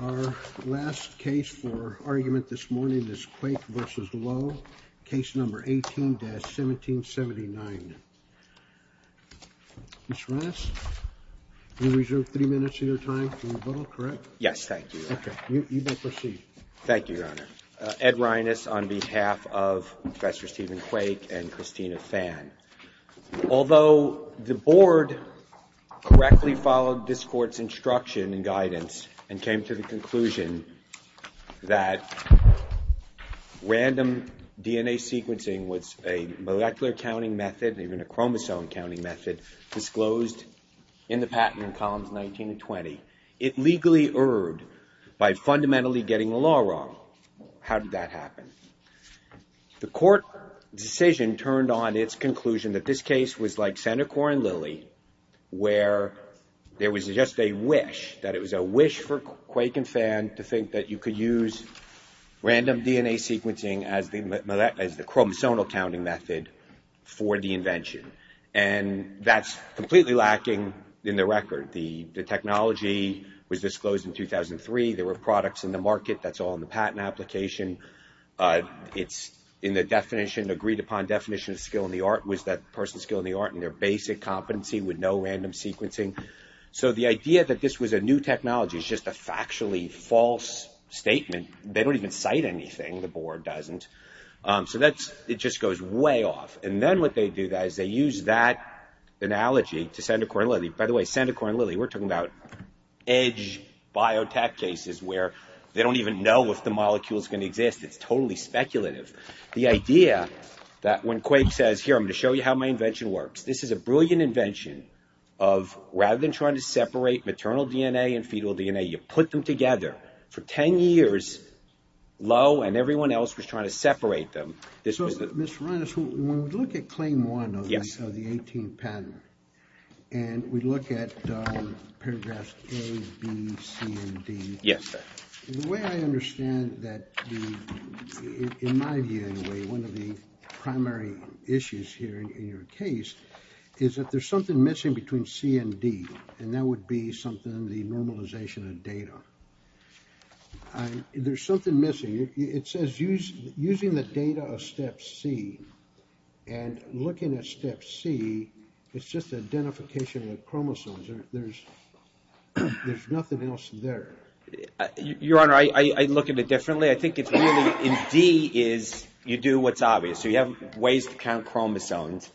Our last case for argument this morning is Quake v. Lo, case number 18-1779. Mr. Reines, you reserve three minutes of your time for rebuttal, correct? Yes, thank you, Your Honor. Okay, you may proceed. Thank you, Your Honor. Ed Reines on behalf of Professor Stephen Quake and Christina Phan. Although the board correctly followed this court's instruction and guidance and came to the conclusion that random DNA sequencing was a molecular counting method, even a chromosome counting method, disclosed in the patent in columns 19 and 20, it legally erred by fundamentally getting the law wrong. How did that happen? The court decision turned on its conclusion that this case was like Senecor and Lilly where there was just a wish, that it was a wish for Quake and Phan to think that you could use random DNA sequencing as the chromosomal counting method for the invention. And that's completely lacking in the record. The technology was disclosed in 2003. There were products in the market. That's all in the patent application. It's in the definition, agreed upon definition of skill in the art, was that the person's skill in the art in their basic competency would know random sequencing. So the idea that this was a new technology is just a factually false statement. They don't even cite anything. The board doesn't. So it just goes way off. And then what they do is they use that analogy to Senecor and Lilly. By the way, Senecor and Lilly, we're talking about edge biotech cases where they don't even know if the molecule's going to exist. It's totally speculative. The idea that when Quake says, here, I'm going to show you how my invention works, this is a brilliant invention of rather than trying to separate maternal DNA and fetal DNA, you put them together for 10 years low, and everyone else was trying to separate them. So, Mr. Reines, when we look at Claim 1 of the 18th patent, and we look at paragraphs A, B, C, and D, the way I understand that, in my view anyway, one of the primary issues here in your case is that there's something missing between C and D, and that would be something in the normalization of data. There's something missing. It says using the data of Step C, and looking at Step C, it's just identification with chromosomes. There's nothing else there. Your Honor, I look at it differently. I think it's really in D is you do what's obvious. So you have ways to count chromosomes,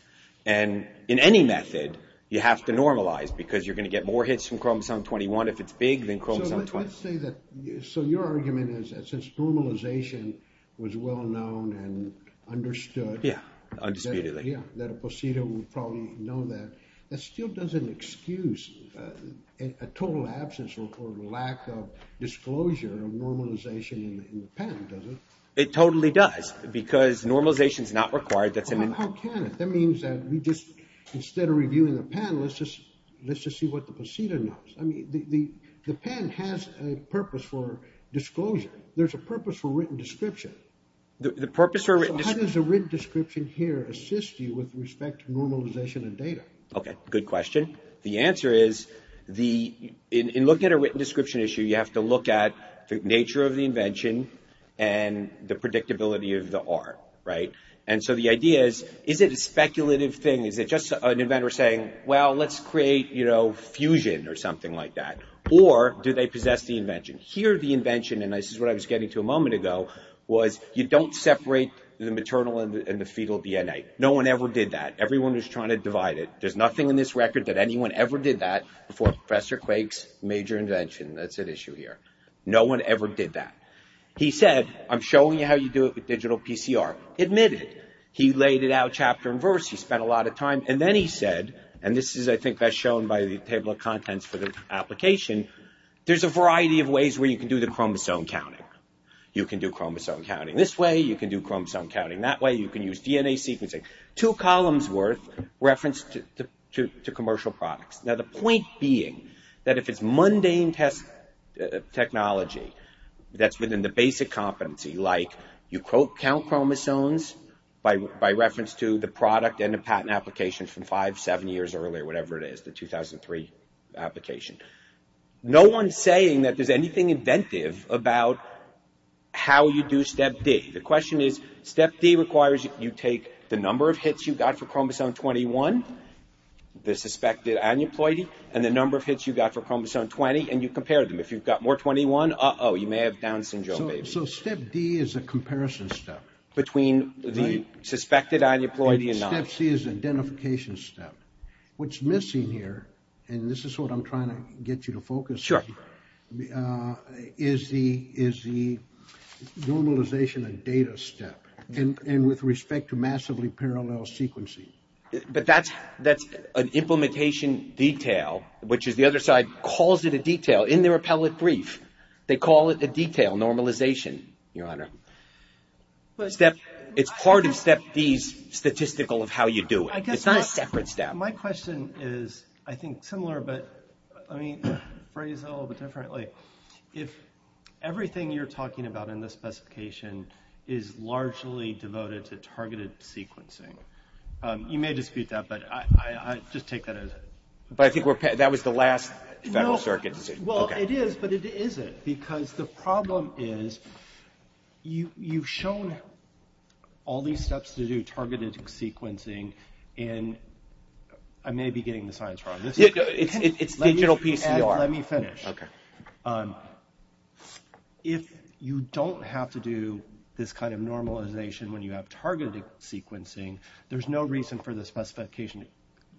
and in any method, you have to normalize because you're going to get more hits from chromosome 21 if it's big than chromosome 20. So your argument is that since normalization was well known and understood, that a procedure would probably know that, that still doesn't excuse a total absence or lack of disclosure of normalization in the patent, does it? It totally does because normalization is not required. How can it? That means that instead of reviewing the patent, let's just see what the procedure knows. The patent has a purpose for disclosure. There's a purpose for written description. How does a written description here assist you with respect to normalization of data? Okay, good question. The answer is in looking at a written description issue, you have to look at the nature of the invention and the predictability of the art. And so the idea is, is it a speculative thing? Is it just an inventor saying, well, let's create fusion or something like that? Or do they possess the invention? Here the invention, and this is what I was getting to a moment ago, was you don't separate the maternal and the fetal DNA. No one ever did that. Everyone was trying to divide it. There's nothing in this record that anyone ever did that before Professor Quake's major invention. That's at issue here. No one ever did that. He said, I'm showing you how you do it with digital PCR. Admit it. He laid it out chapter and verse. He spent a lot of time. And then he said, and this is, I think, as shown by the table of contents for the application, there's a variety of ways where you can do the chromosome counting. You can do chromosome counting this way. You can do chromosome counting that way. You can use DNA sequencing. Two columns worth referenced to commercial products. Now the point being that if it's mundane test technology that's within the basic competency, like you count chromosomes by reference to the product and the patent application from five, seven years earlier, whatever it is, the 2003 application. No one's saying that there's anything inventive about how you do step D. The question is, step D requires you take the number of hits you've got for chromosome 21, the suspected aneuploidy, and the number of hits you've got for chromosome 20, and you compare them. If you've got more 21, uh-oh, you may have Down syndrome, baby. So step D is a comparison step? Between the suspected aneuploidy and not. Step C is identification step. What's missing here, and this is what I'm trying to get you to focus on, is the normalization of data step, and with respect to massively parallel sequencing. But that's an implementation detail, which is the other side calls it a detail. In their appellate brief, they call it a detail normalization, Your Honor. It's part of step D's statistical of how you do it. It's not a separate step. My question is, I think, similar, but I mean, phrased a little bit differently. If everything you're talking about in this specification is largely devoted to targeted sequencing, you may dispute that, but I just take that as it. But I think that was the last Federal Circuit decision. Well, it is, but it isn't. Because the problem is you've shown all these steps to do targeted sequencing, and I may be getting the science wrong. It's digital PCR. Let me finish. If you don't have to do this kind of normalization when you have targeted sequencing, there's no reason for the specification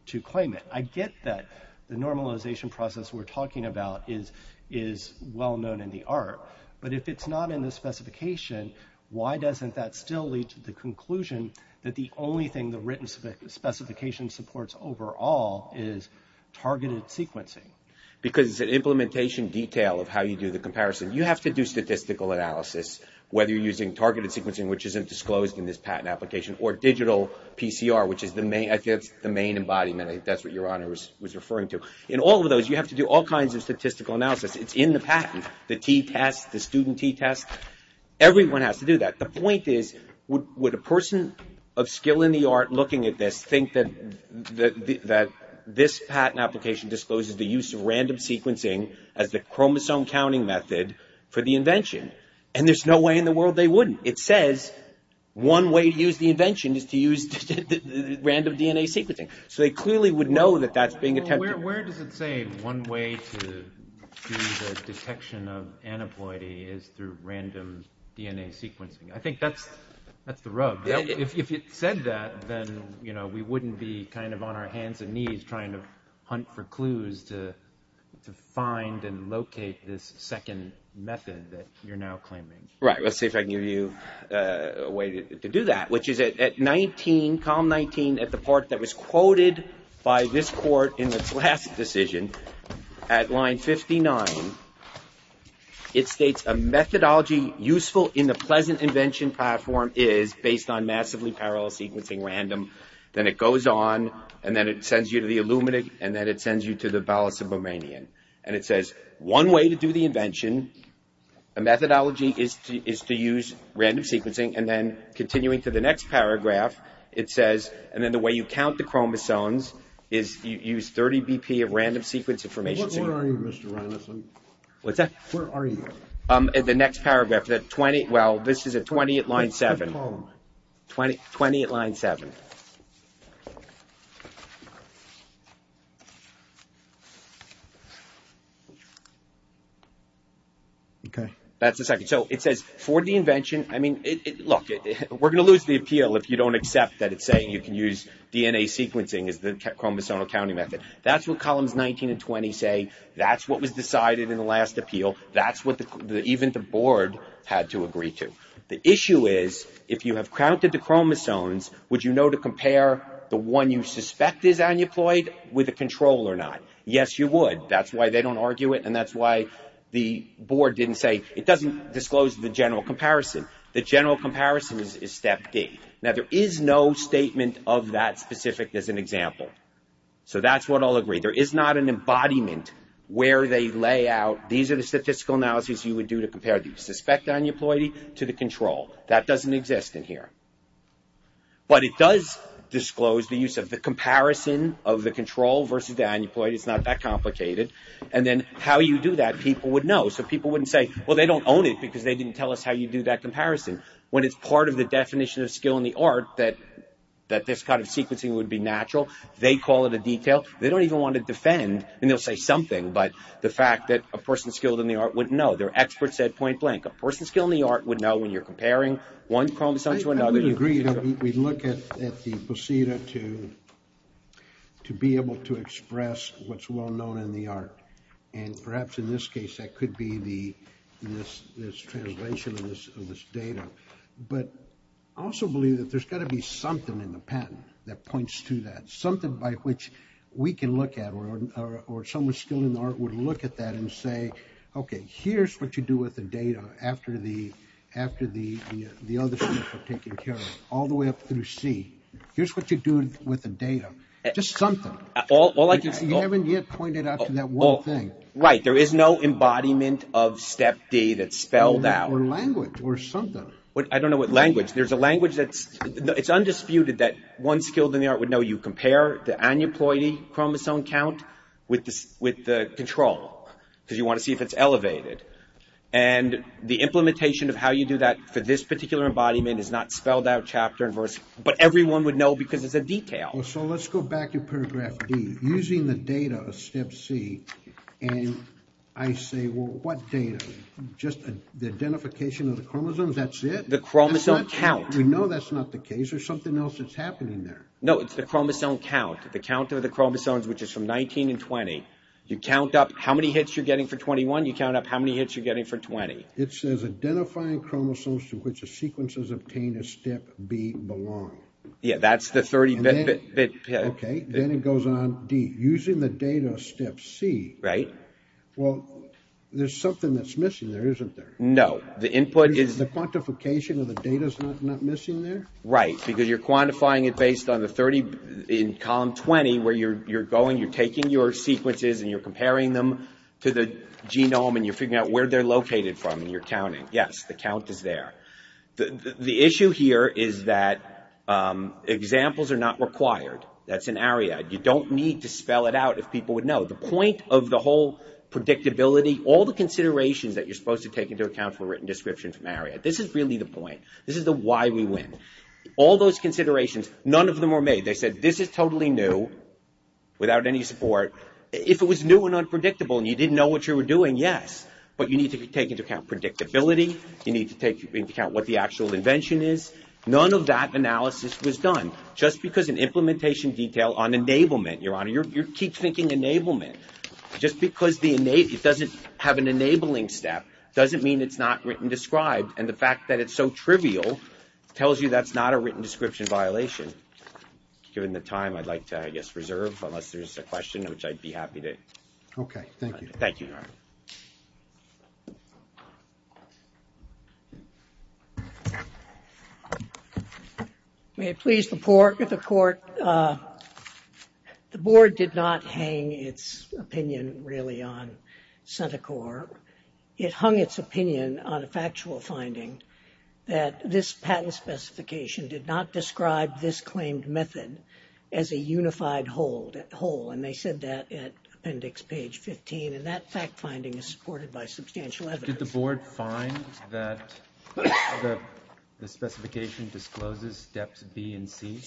to claim it. I get that the normalization process we're talking about is well known in the art, but if it's not in the specification, why doesn't that still lead to the conclusion that the only thing the written specification supports overall is targeted sequencing? Because it's an implementation detail of how you do the comparison. You have to do statistical analysis, whether you're using targeted sequencing, which isn't disclosed in this patent application, or digital PCR, which is the main embodiment. I think that's what Your Honor was referring to. In all of those, you have to do all kinds of statistical analysis. It's in the patent. The t-test, the student t-test, everyone has to do that. The point is, would a person of skill in the art looking at this think that this patent application discloses the use of random sequencing as the chromosome counting method for the invention? And there's no way in the world they wouldn't. It says one way to use the invention is to use random DNA sequencing. So they clearly would know that that's being attempted. Well, where does it say one way to do the detection of aneuploidy is through random DNA sequencing? I think that's the rub. If it said that, then we wouldn't be kind of on our hands and knees trying to hunt for clues to find and locate this second method that you're now claiming. Right. Let's see if I can give you a way to do that, which is at 19, column 19, at the part that was quoted by this court in its last decision, at line 59, it states a methodology useful in the pleasant invention platform is based on massively parallel sequencing random. Then it goes on, and then it sends you to the Illuminate, and then it sends you to the Ballisubramanian. And it says one way to do the invention, a methodology, is to use random sequencing. And then continuing to the next paragraph, it says, and then the way you count the chromosomes is use 30 BP of random sequence information. Where are you, Mr. Reinesen? What's that? Where are you? In the next paragraph. Well, this is at 20 at line 7. Which column? 20 at line 7. Okay. That's the second. So it says for the invention, I mean, look, we're going to lose the appeal if you don't accept that it's saying you can use DNA sequencing as the chromosomal counting method. That's what columns 19 and 20 say. That's what was decided in the last appeal. That's what even the board had to agree to. The issue is if you have counted the chromosomes, would you know to compare the one you suspect is aneuploid with a control or not? Yes, you would. That's why they don't argue it, and that's why the board didn't say it doesn't disclose the general comparison. The general comparison is step D. Now, there is no statement of that specific as an example. So that's what I'll agree. There is not an embodiment where they lay out, these are the statistical analyses you would do to compare the suspect aneuploidy to the control. That doesn't exist in here. But it does disclose the use of the comparison of the control versus the aneuploid. It's not that complicated. And then how you do that, people would know. So people wouldn't say, well, they don't own it because they didn't tell us how you do that comparison. When it's part of the definition of skill in the art that this kind of sequencing would be natural, they call it a detail. They don't even want to defend, and they'll say something, but the fact that a person skilled in the art would know. Their expert said point blank. A person skilled in the art would know when you're comparing one chromosome to another. I would agree. We look at the basida to be able to express what's well known in the art. And perhaps in this case, that could be this translation of this data. But I also believe that there's got to be something in the patent that points to that, something by which we can look at, or someone skilled in the art would look at that and say, okay, here's what you do with the data after the other steps are taken care of, all the way up through C. Here's what you do with the data. Just something. You haven't yet pointed out to that one thing. Right. There is no embodiment of step D that's spelled out. Or language or something. I don't know what language. There's a language that's undisputed that one skilled in the art would know you compare the aneuploidy chromosome count with the control, because you want to see if it's elevated. And the implementation of how you do that for this particular embodiment is not spelled out chapter and verse, but everyone would know because it's a detail. So let's go back to paragraph D. Using the data of step C, and I say, well, what data? Just the identification of the chromosomes, that's it? The chromosome count. We know that's not the case. There's something else that's happening there. No, it's the chromosome count. The count of the chromosomes, which is from 19 and 20. You count up how many hits you're getting for 21. You count up how many hits you're getting for 20. It says identifying chromosomes to which the sequences obtain a step B belong. Yeah, that's the 30-bit. Okay. Then it goes on D. Using the data of step C. Right. Well, there's something that's missing there, isn't there? No. The input is. The quantification of the data is not missing there? Right. Because you're quantifying it based on the 30 in column 20 where you're going, you're taking your sequences, and you're comparing them to the genome, and you're figuring out where they're located from, and you're counting. Yes, the count is there. The issue here is that examples are not required. That's an ARIAD. You don't need to spell it out if people would know. The point of the whole predictability, all the considerations that you're supposed to take into account for a written description from ARIAD, this is really the point. This is the why we win. All those considerations, none of them were made. They said this is totally new without any support. If it was new and unpredictable and you didn't know what you were doing, yes. But you need to take into account predictability. You need to take into account what the actual invention is. None of that analysis was done. Just because an implementation detail on enablement, Your Honor, you keep thinking enablement. Just because it doesn't have an enabling step doesn't mean it's not written described, and the fact that it's so trivial tells you that's not a written description violation. Given the time, I'd like to, I guess, reserve unless there's a question, which I'd be happy to. Okay. Thank you. Thank you, Your Honor. May it please the Court, the Board did not hang its opinion really on CentiCorps. It hung its opinion on a factual finding that this patent specification did not describe this claimed method as a unified whole. And they said that at appendix page 15. And that fact finding is supported by substantial evidence. Did the Board find that the specification discloses steps B and C?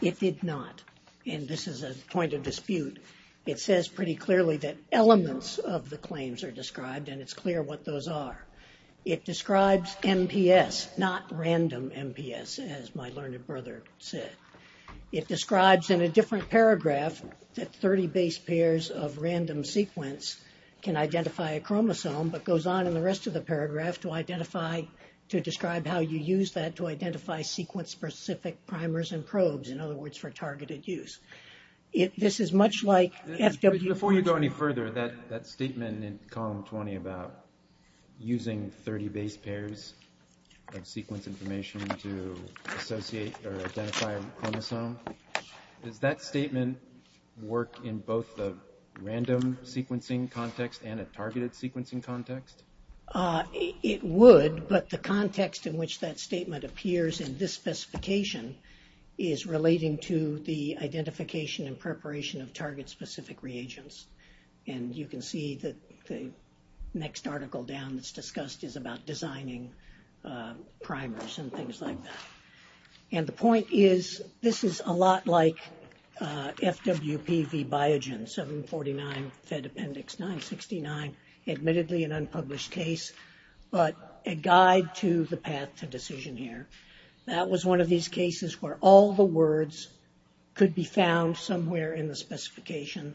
It did not. And this is a point of dispute. It says pretty clearly that elements of the claims are described, and it's clear what those are. It describes MPS, not random MPS, as my learned brother said. It describes in a different paragraph that 30 base pairs of random sequence can identify a chromosome, but goes on in the rest of the paragraph to identify, to describe how you use that to identify sequence-specific primers and probes. In other words, for targeted use. This is much like FW. Before you go any further, that statement in column 20 about using 30 base pairs of sequence information to associate or identify a chromosome, does that statement work in both the random sequencing context and a targeted sequencing context? It would, but the context in which that statement appears in this specification is relating to the identification and preparation of sequence. And you can see that the next article down that's discussed is about designing primers and things like that. And the point is this is a lot like FWP v. Biogen, 749 Fed Appendix 969, admittedly an unpublished case, but a guide to the path to decision here. That was one of these cases where all the words could be found somewhere in the specification,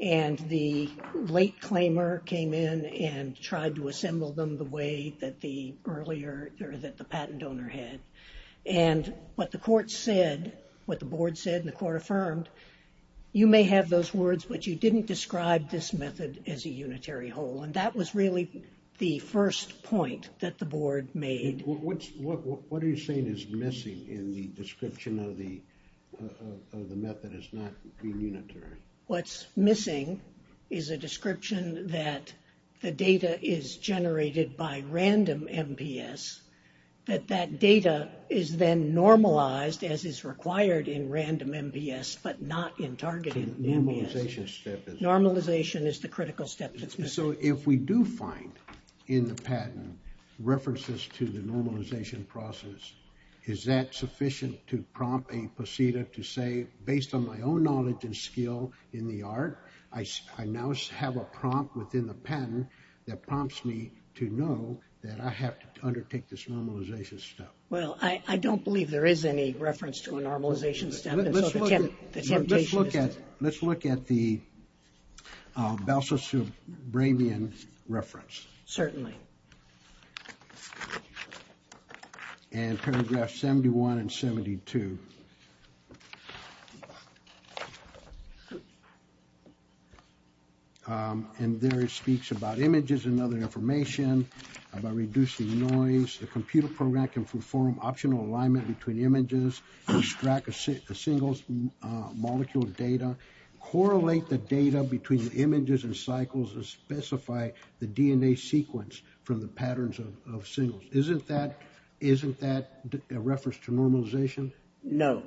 and the late claimer came in and tried to assemble them the way that the patent owner had. And what the court said, what the board said and the court affirmed, you may have those words, but you didn't describe this method as a unitary whole. And that was really the first point that the board made. What are you saying is missing in the description of the method as not being unitary? What's missing is a description that the data is generated by random MPS, that that data is then normalized as is required in random MPS, but not in targeted MPS. The normalization step. Normalization is the critical step that's missing. So if we do find in the patent references to the normalization process, is that sufficient to prompt a procedure to say, based on my own knowledge and skill in the art, I now have a prompt within the patent that prompts me to know that I have to undertake this normalization step. Well, I don't believe there is any reference to a normalization step. Let's look at the Belsus-Brabian reference. Certainly. And paragraph 71 and 72. And there it speaks about images and other information, about reducing noise. The computer program can perform optional alignment between images, extract a single molecule of data, correlate the data between the images and cycles, and specify the DNA sequence from the patterns of signals. Isn't that a reference to normalization? No.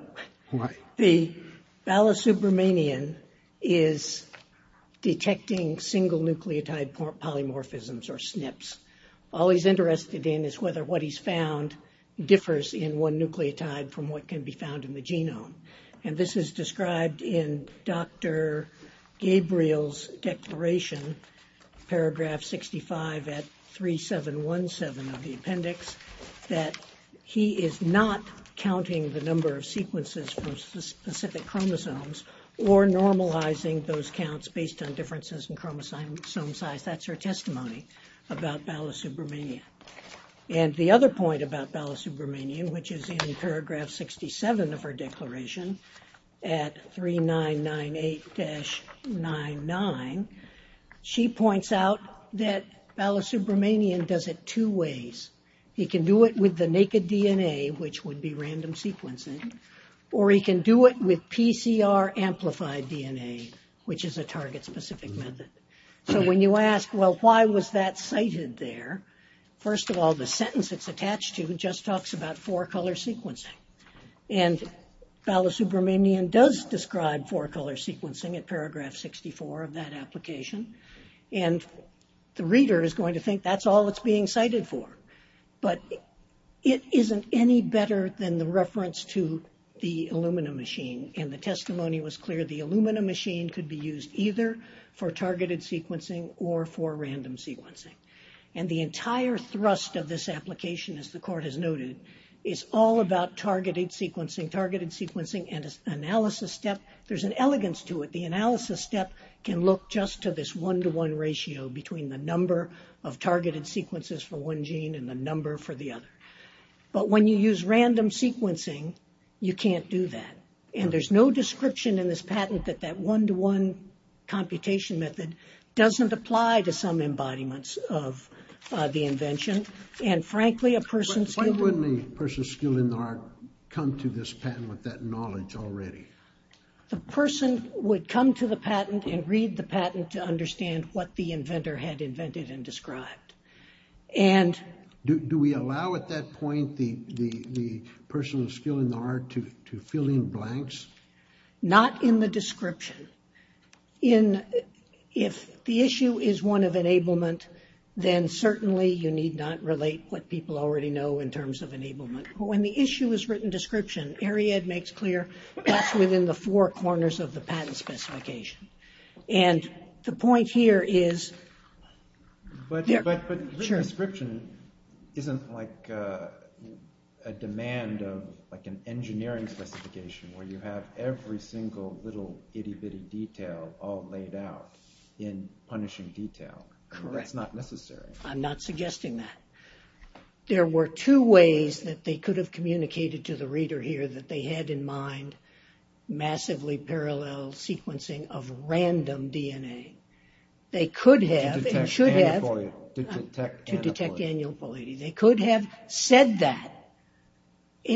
Why? The Belsus-Brabian is detecting single nucleotide polymorphisms, or SNPs. All he's interested in is whether what he's found differs in one nucleotide from what can be found in the genome. And this is described in Dr. Gabriel's declaration, paragraph 65 at 3717 of the appendix, that he is not counting the number of sequences from specific chromosomes, or normalizing those counts based on differences in chromosome size. That's her testimony about Belsus-Brabian. And the other point about Belsus-Brabian, which is in paragraph 67 of her declaration at 3998-99, she points out that Belsus-Brabian does it two ways. He can do it with the naked DNA, which would be random sequencing, or he can do it with PCR-amplified DNA, which is a target-specific method. So when you ask, well, why was that cited there? First of all, the sentence it's attached to just talks about four-color sequencing. And Belsus-Brabian does describe four-color sequencing in paragraph 64 of that application. And the reader is going to think that's all it's being cited for. But it isn't any better than the reference to the Illumina machine. And the testimony was clear. The Illumina machine could be used either for targeted sequencing or for random sequencing. And the entire thrust of this application, as the court has noted, is all about targeted sequencing. Targeted sequencing and its analysis step, there's an elegance to it. The analysis step can look just to this one-to-one ratio between the number of targeted sequences for one gene and the number for the other. But when you use random sequencing, you can't do that. And there's no description in this patent that that one-to-one computation method doesn't apply to some embodiments of the invention. And, frankly, a person's skill... Why wouldn't a person's skill in the art come to this patent with that knowledge already? The person would come to the patent and read the patent to understand what the inventor had invented and described. And... Do we allow, at that point, the person's skill in the art to fill in blanks? Not in the description. In... If the issue is one of enablement, then certainly you need not relate what people already know in terms of enablement. But when the issue is written description, Ariad makes clear that's within the four corners of the patent specification. And the point here is... But written description isn't like a demand of an engineering specification where you have every single little itty-bitty detail all laid out in punishing detail. Correct. That's not necessary. I'm not suggesting that. There were two ways that they could have communicated to the reader here that they had in mind massively parallel sequencing of random DNA. They could have... To detect aneuploidy. To detect aneuploidy. They could have said that.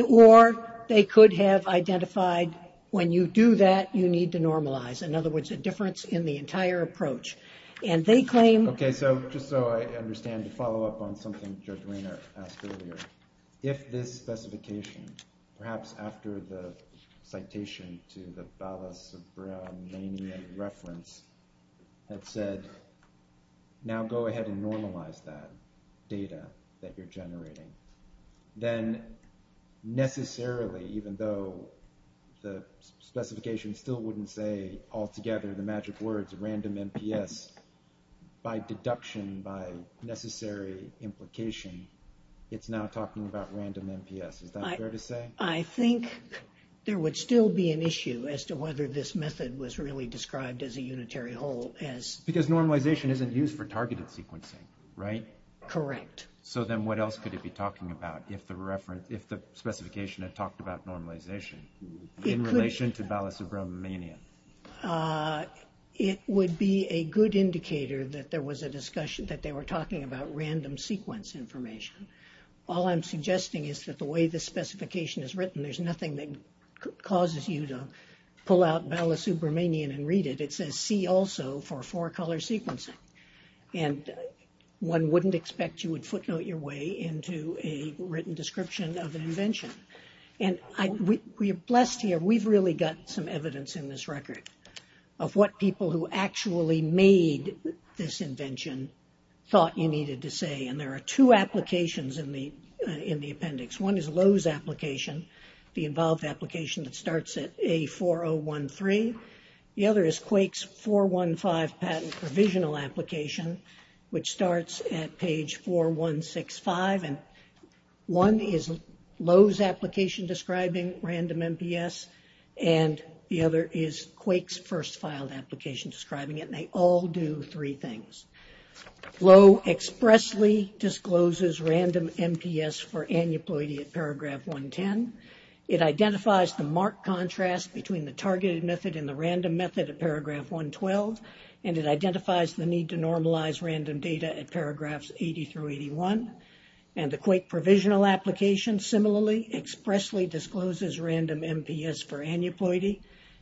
Or they could have identified, when you do that, you need to normalize. In other words, a difference in the entire approach. And they claim... Okay. So just so I understand, to follow up on something Judge Rainer asked earlier, if this specification, perhaps after the citation to the Bala-Sabra-Manyan reference, had said, now go ahead and normalize that data that you're generating, then necessarily, even though the specification still wouldn't say altogether the magic words, random NPS, by deduction, by necessary implication, it's now talking about random NPS. Is that fair to say? I think there would still be an issue as to whether this method was really described as a unitary whole. Because normalization isn't used for targeted sequencing, right? Correct. So then what else could it be talking about if the specification had talked about normalization in relation to Bala-Sabra-Manyan? It would be a good indicator that there was a discussion, that they were talking about random sequence information. All I'm suggesting is that the way the specification is written, there's nothing that causes you to pull out Bala-Sabra-Manyan and read it. It says, see also for four-color sequencing. And one wouldn't expect you would footnote your way into a written description of an invention. And we're blessed here. We've really got some evidence in this record of what people who actually made this invention thought you needed to say. And there are two applications in the appendix. One is Lowe's application, the involved application that starts at A4013. The other is Quake's 415 patent provisional application, which starts at page 4165. And one is Lowe's application describing random MPS, and the other is Quake's first filed application describing it. And they all do three things. Lowe expressly discloses random MPS for aneuploidy at paragraph 110. It identifies the marked contrast between the targeted method and the random method at paragraph 112. And it identifies the need to normalize random data at paragraphs 80 through 81. And the Quake provisional application, similarly, expressly discloses random MPS for aneuploidy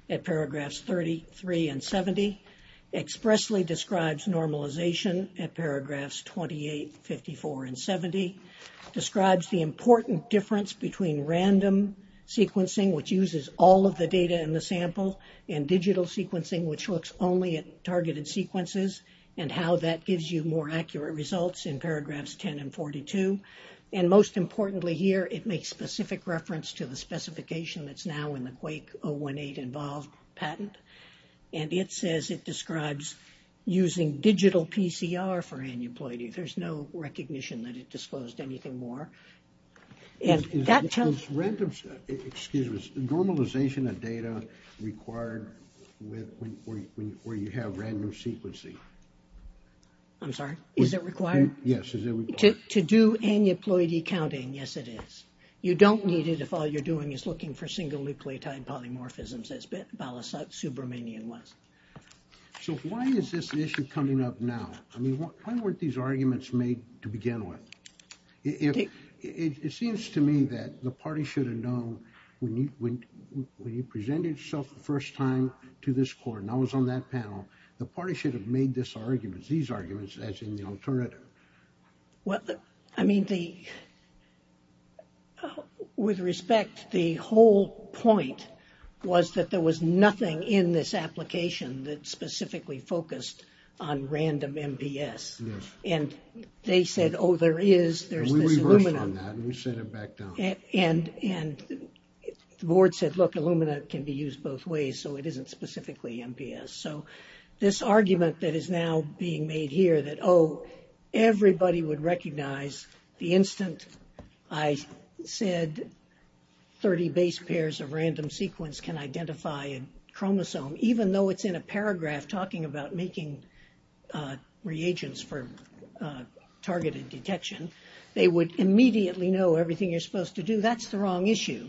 at paragraphs 33 and 70, expressly describes normalization at paragraphs 28, 54, and 70, describes the important difference between random sequencing, which uses all of the data in the sample, and digital sequencing, which looks only at targeted sequences, and how that gives you more accurate results in paragraphs 10 and 42. And most importantly here, it makes specific reference to the specification that's now in the Quake 018 involved patent. And it says it describes using digital PCR for aneuploidy. There's no recognition that it disclosed anything more. And that tells... Is random... Excuse me. Is normalization of data required where you have random sequencing? I'm sorry? Is it required? Yes, is it required? To do aneuploidy counting, yes, it is. You don't need it if all you're doing is looking for single nucleotide polymorphisms as Balasubramanian was. So why is this an issue coming up now? I mean, why weren't these arguments made to begin with? It seems to me that the party should have known when you presented yourself the first time to this court, and I was on that panel, the party should have made these arguments as in the alternative. Well, I mean, with respect, the whole point was that there was nothing in this application that specifically focused on random MPS. Yes. And they said, oh, there is, there's this Illumina. We reversed on that and we sent it back down. And the board said, look, Illumina can be used both ways, so it isn't specifically MPS. So this argument that is now being made here that, oh, everybody would recognize the instant I said 30 base pairs of random sequence can identify a chromosome, even though it's in a paragraph talking about making reagents for targeted detection, they would immediately know everything you're supposed to do. That's the wrong issue.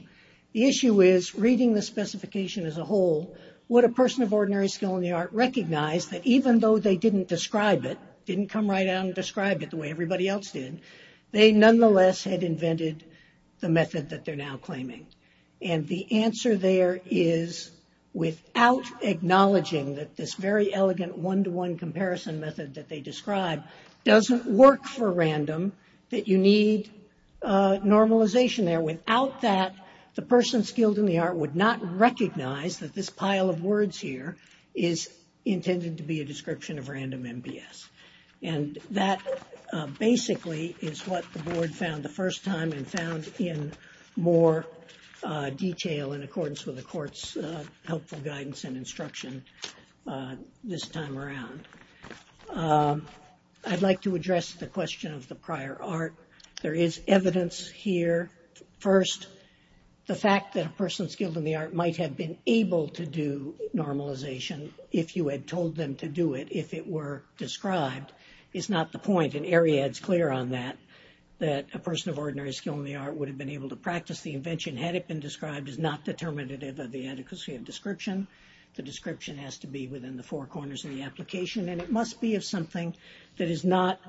The issue is reading the specification as a whole, would a person of ordinary skill in the art recognize that even though they didn't describe it, didn't come right out and describe it the way everybody else did, they nonetheless had invented the method that they're now claiming. And the answer there is without acknowledging that this very elegant one-to-one comparison method that they describe doesn't work for random, that you need normalization there. Without that, the person skilled in the art would not recognize that this pile of words here is intended to be a description of random MPS. And that basically is what the board found the first time and found in more detail in accordance with the court's helpful guidance and instruction this time around. I'd like to address the question of the prior art. There is evidence here. First, the fact that a person skilled in the art might have been able to do normalization if you had told them to do it, if it were described is not the point. And Ariadne's clear on that, that a person of ordinary skill in the art would have been able to practice the invention had it been described as not determinative of the adequacy of description. The description has to be within the four corners of the application and it must be of something that is not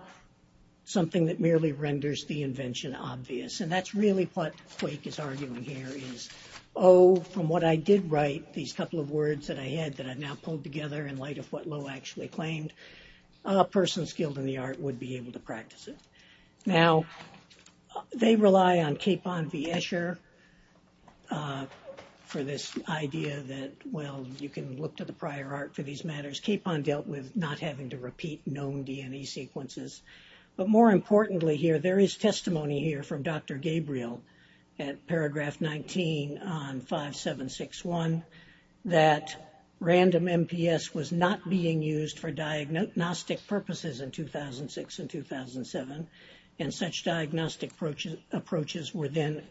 something that merely renders the invention obvious. And that's really what Quake is arguing here is, oh, from what I did write, these couple of words that I had that I've now pulled together in light of what Lowe actually claimed, a person skilled in the art would be able to practice it. Now, they rely on Capon v. Escher for this idea that, well, you can look to the prior art for these matters. Capon dealt with not having to repeat known DNA sequences. But more importantly here, there is testimony here from Dr. Gabriel at paragraph 19 on 5761 that random MPS was not being used for diagnostic purposes in 2006 and 2007. And such diagnostic approaches were then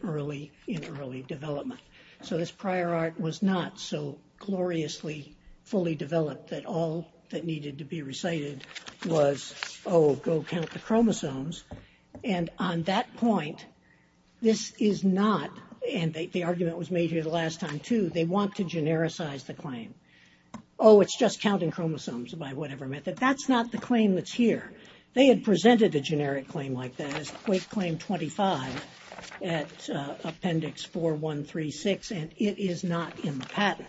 in early development. So this prior art was not so gloriously fully developed that all that needed to be recited was, oh, go count the chromosomes. And on that point, this is not, and the argument was made here the last time too, they want to genericize the claim. Oh, it's just counting chromosomes by whatever method. That's not the claim that's here. They had presented a generic claim like that as Quake claim 25 at appendix 4136, and it is not in the patent.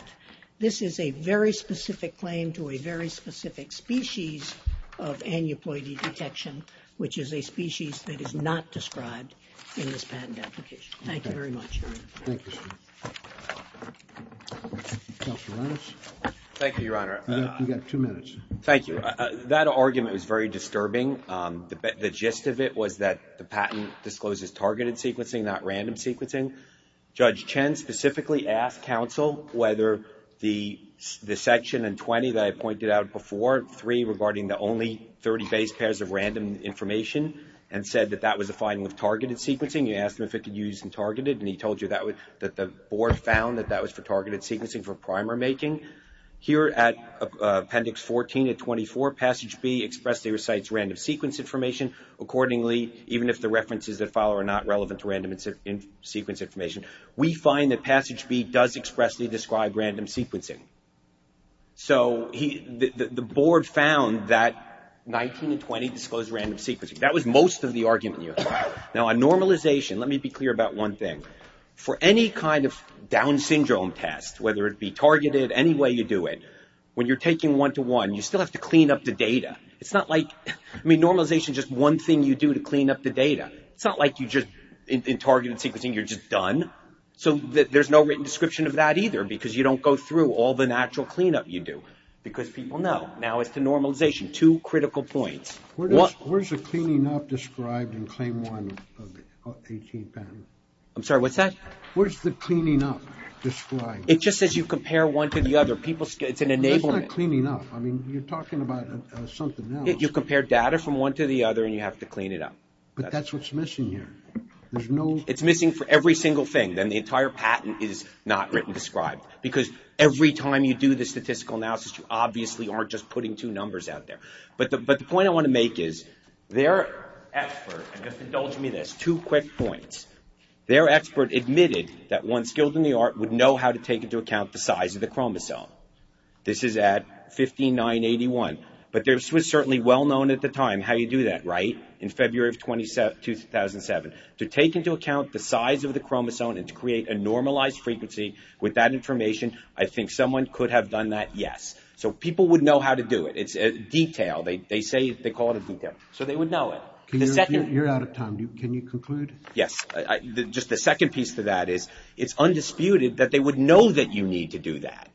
This is a very specific claim to a very specific species of aneuploidy detection, which is a species that is not described in this patent application. Thank you very much. Thank you, sir. Counselor Reynolds. Thank you, Your Honor. You've got two minutes. Thank you. That argument was very disturbing. The gist of it was that the patent discloses targeted sequencing, not random sequencing. Judge Chen specifically asked counsel whether the section in 20 that I pointed out before, 3 regarding the only 30 base pairs of random information, and said that that was a finding of targeted sequencing. He asked him if it could be used in targeted, and he told you that the board found that that was for targeted sequencing for primer making. Here at appendix 14 to 24, passage B expressly recites random sequence information accordingly, even if the references that follow are not relevant to random sequence information. We find that passage B does expressly describe random sequencing. So the board found that 19 and 20 disclosed random sequencing. That was most of the argument, Your Honor. Now, on normalization, let me be clear about one thing. For any kind of Down syndrome test, whether it be targeted, any way you do it, when you're taking one-to-one, you still have to clean up the data. It's not like normalization is just one thing you do to clean up the data. It's not like you just, in targeted sequencing, you're just done. So there's no written description of that either, because you don't go through all the natural cleanup you do, because people know. Now, as to normalization, two critical points. Where's the cleaning up described in claim one of the 18th patent? I'm sorry, what's that? Where's the cleaning up described? It just says you compare one to the other. It's an enablement. That's not cleaning up. I mean, you're talking about something else. You compare data from one to the other, and you have to clean it up. But that's what's missing here. It's missing for every single thing. Then the entire patent is not written described, because every time you do the statistical analysis, you obviously aren't just putting two numbers out there. But the point I want to make is their expert, and just indulge me in this, two quick points. Their expert admitted that one skilled in the art would know how to take into account the size of the chromosome. This is at 15981. But this was certainly well-known at the time, how you do that, right, in February of 2007. To take into account the size of the chromosome and to create a normalized frequency with that information, I think someone could have done that, yes. So people would know how to do it. It's a detail. They call it a detail. So they would know it. You're out of time. Can you conclude? Yes. Just the second piece to that is it's undisputed that they would know that you need to do that.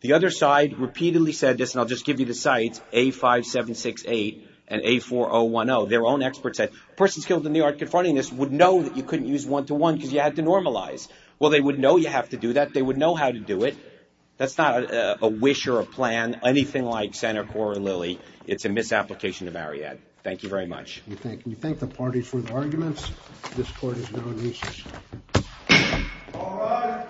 The other side repeatedly said this, and I'll just give you the sites, A5768 and A4010. Their own expert said, persons skilled in the art confronting this would know that you couldn't use one-to-one because you had to normalize. Well, they would know you have to do that. They would know how to do it. That's not a wish or a plan, anything like Senator Cora Lilly. It's a misapplication of Marriott. Thank you very much. We thank the party for the arguments. This court is now in recess. All rise.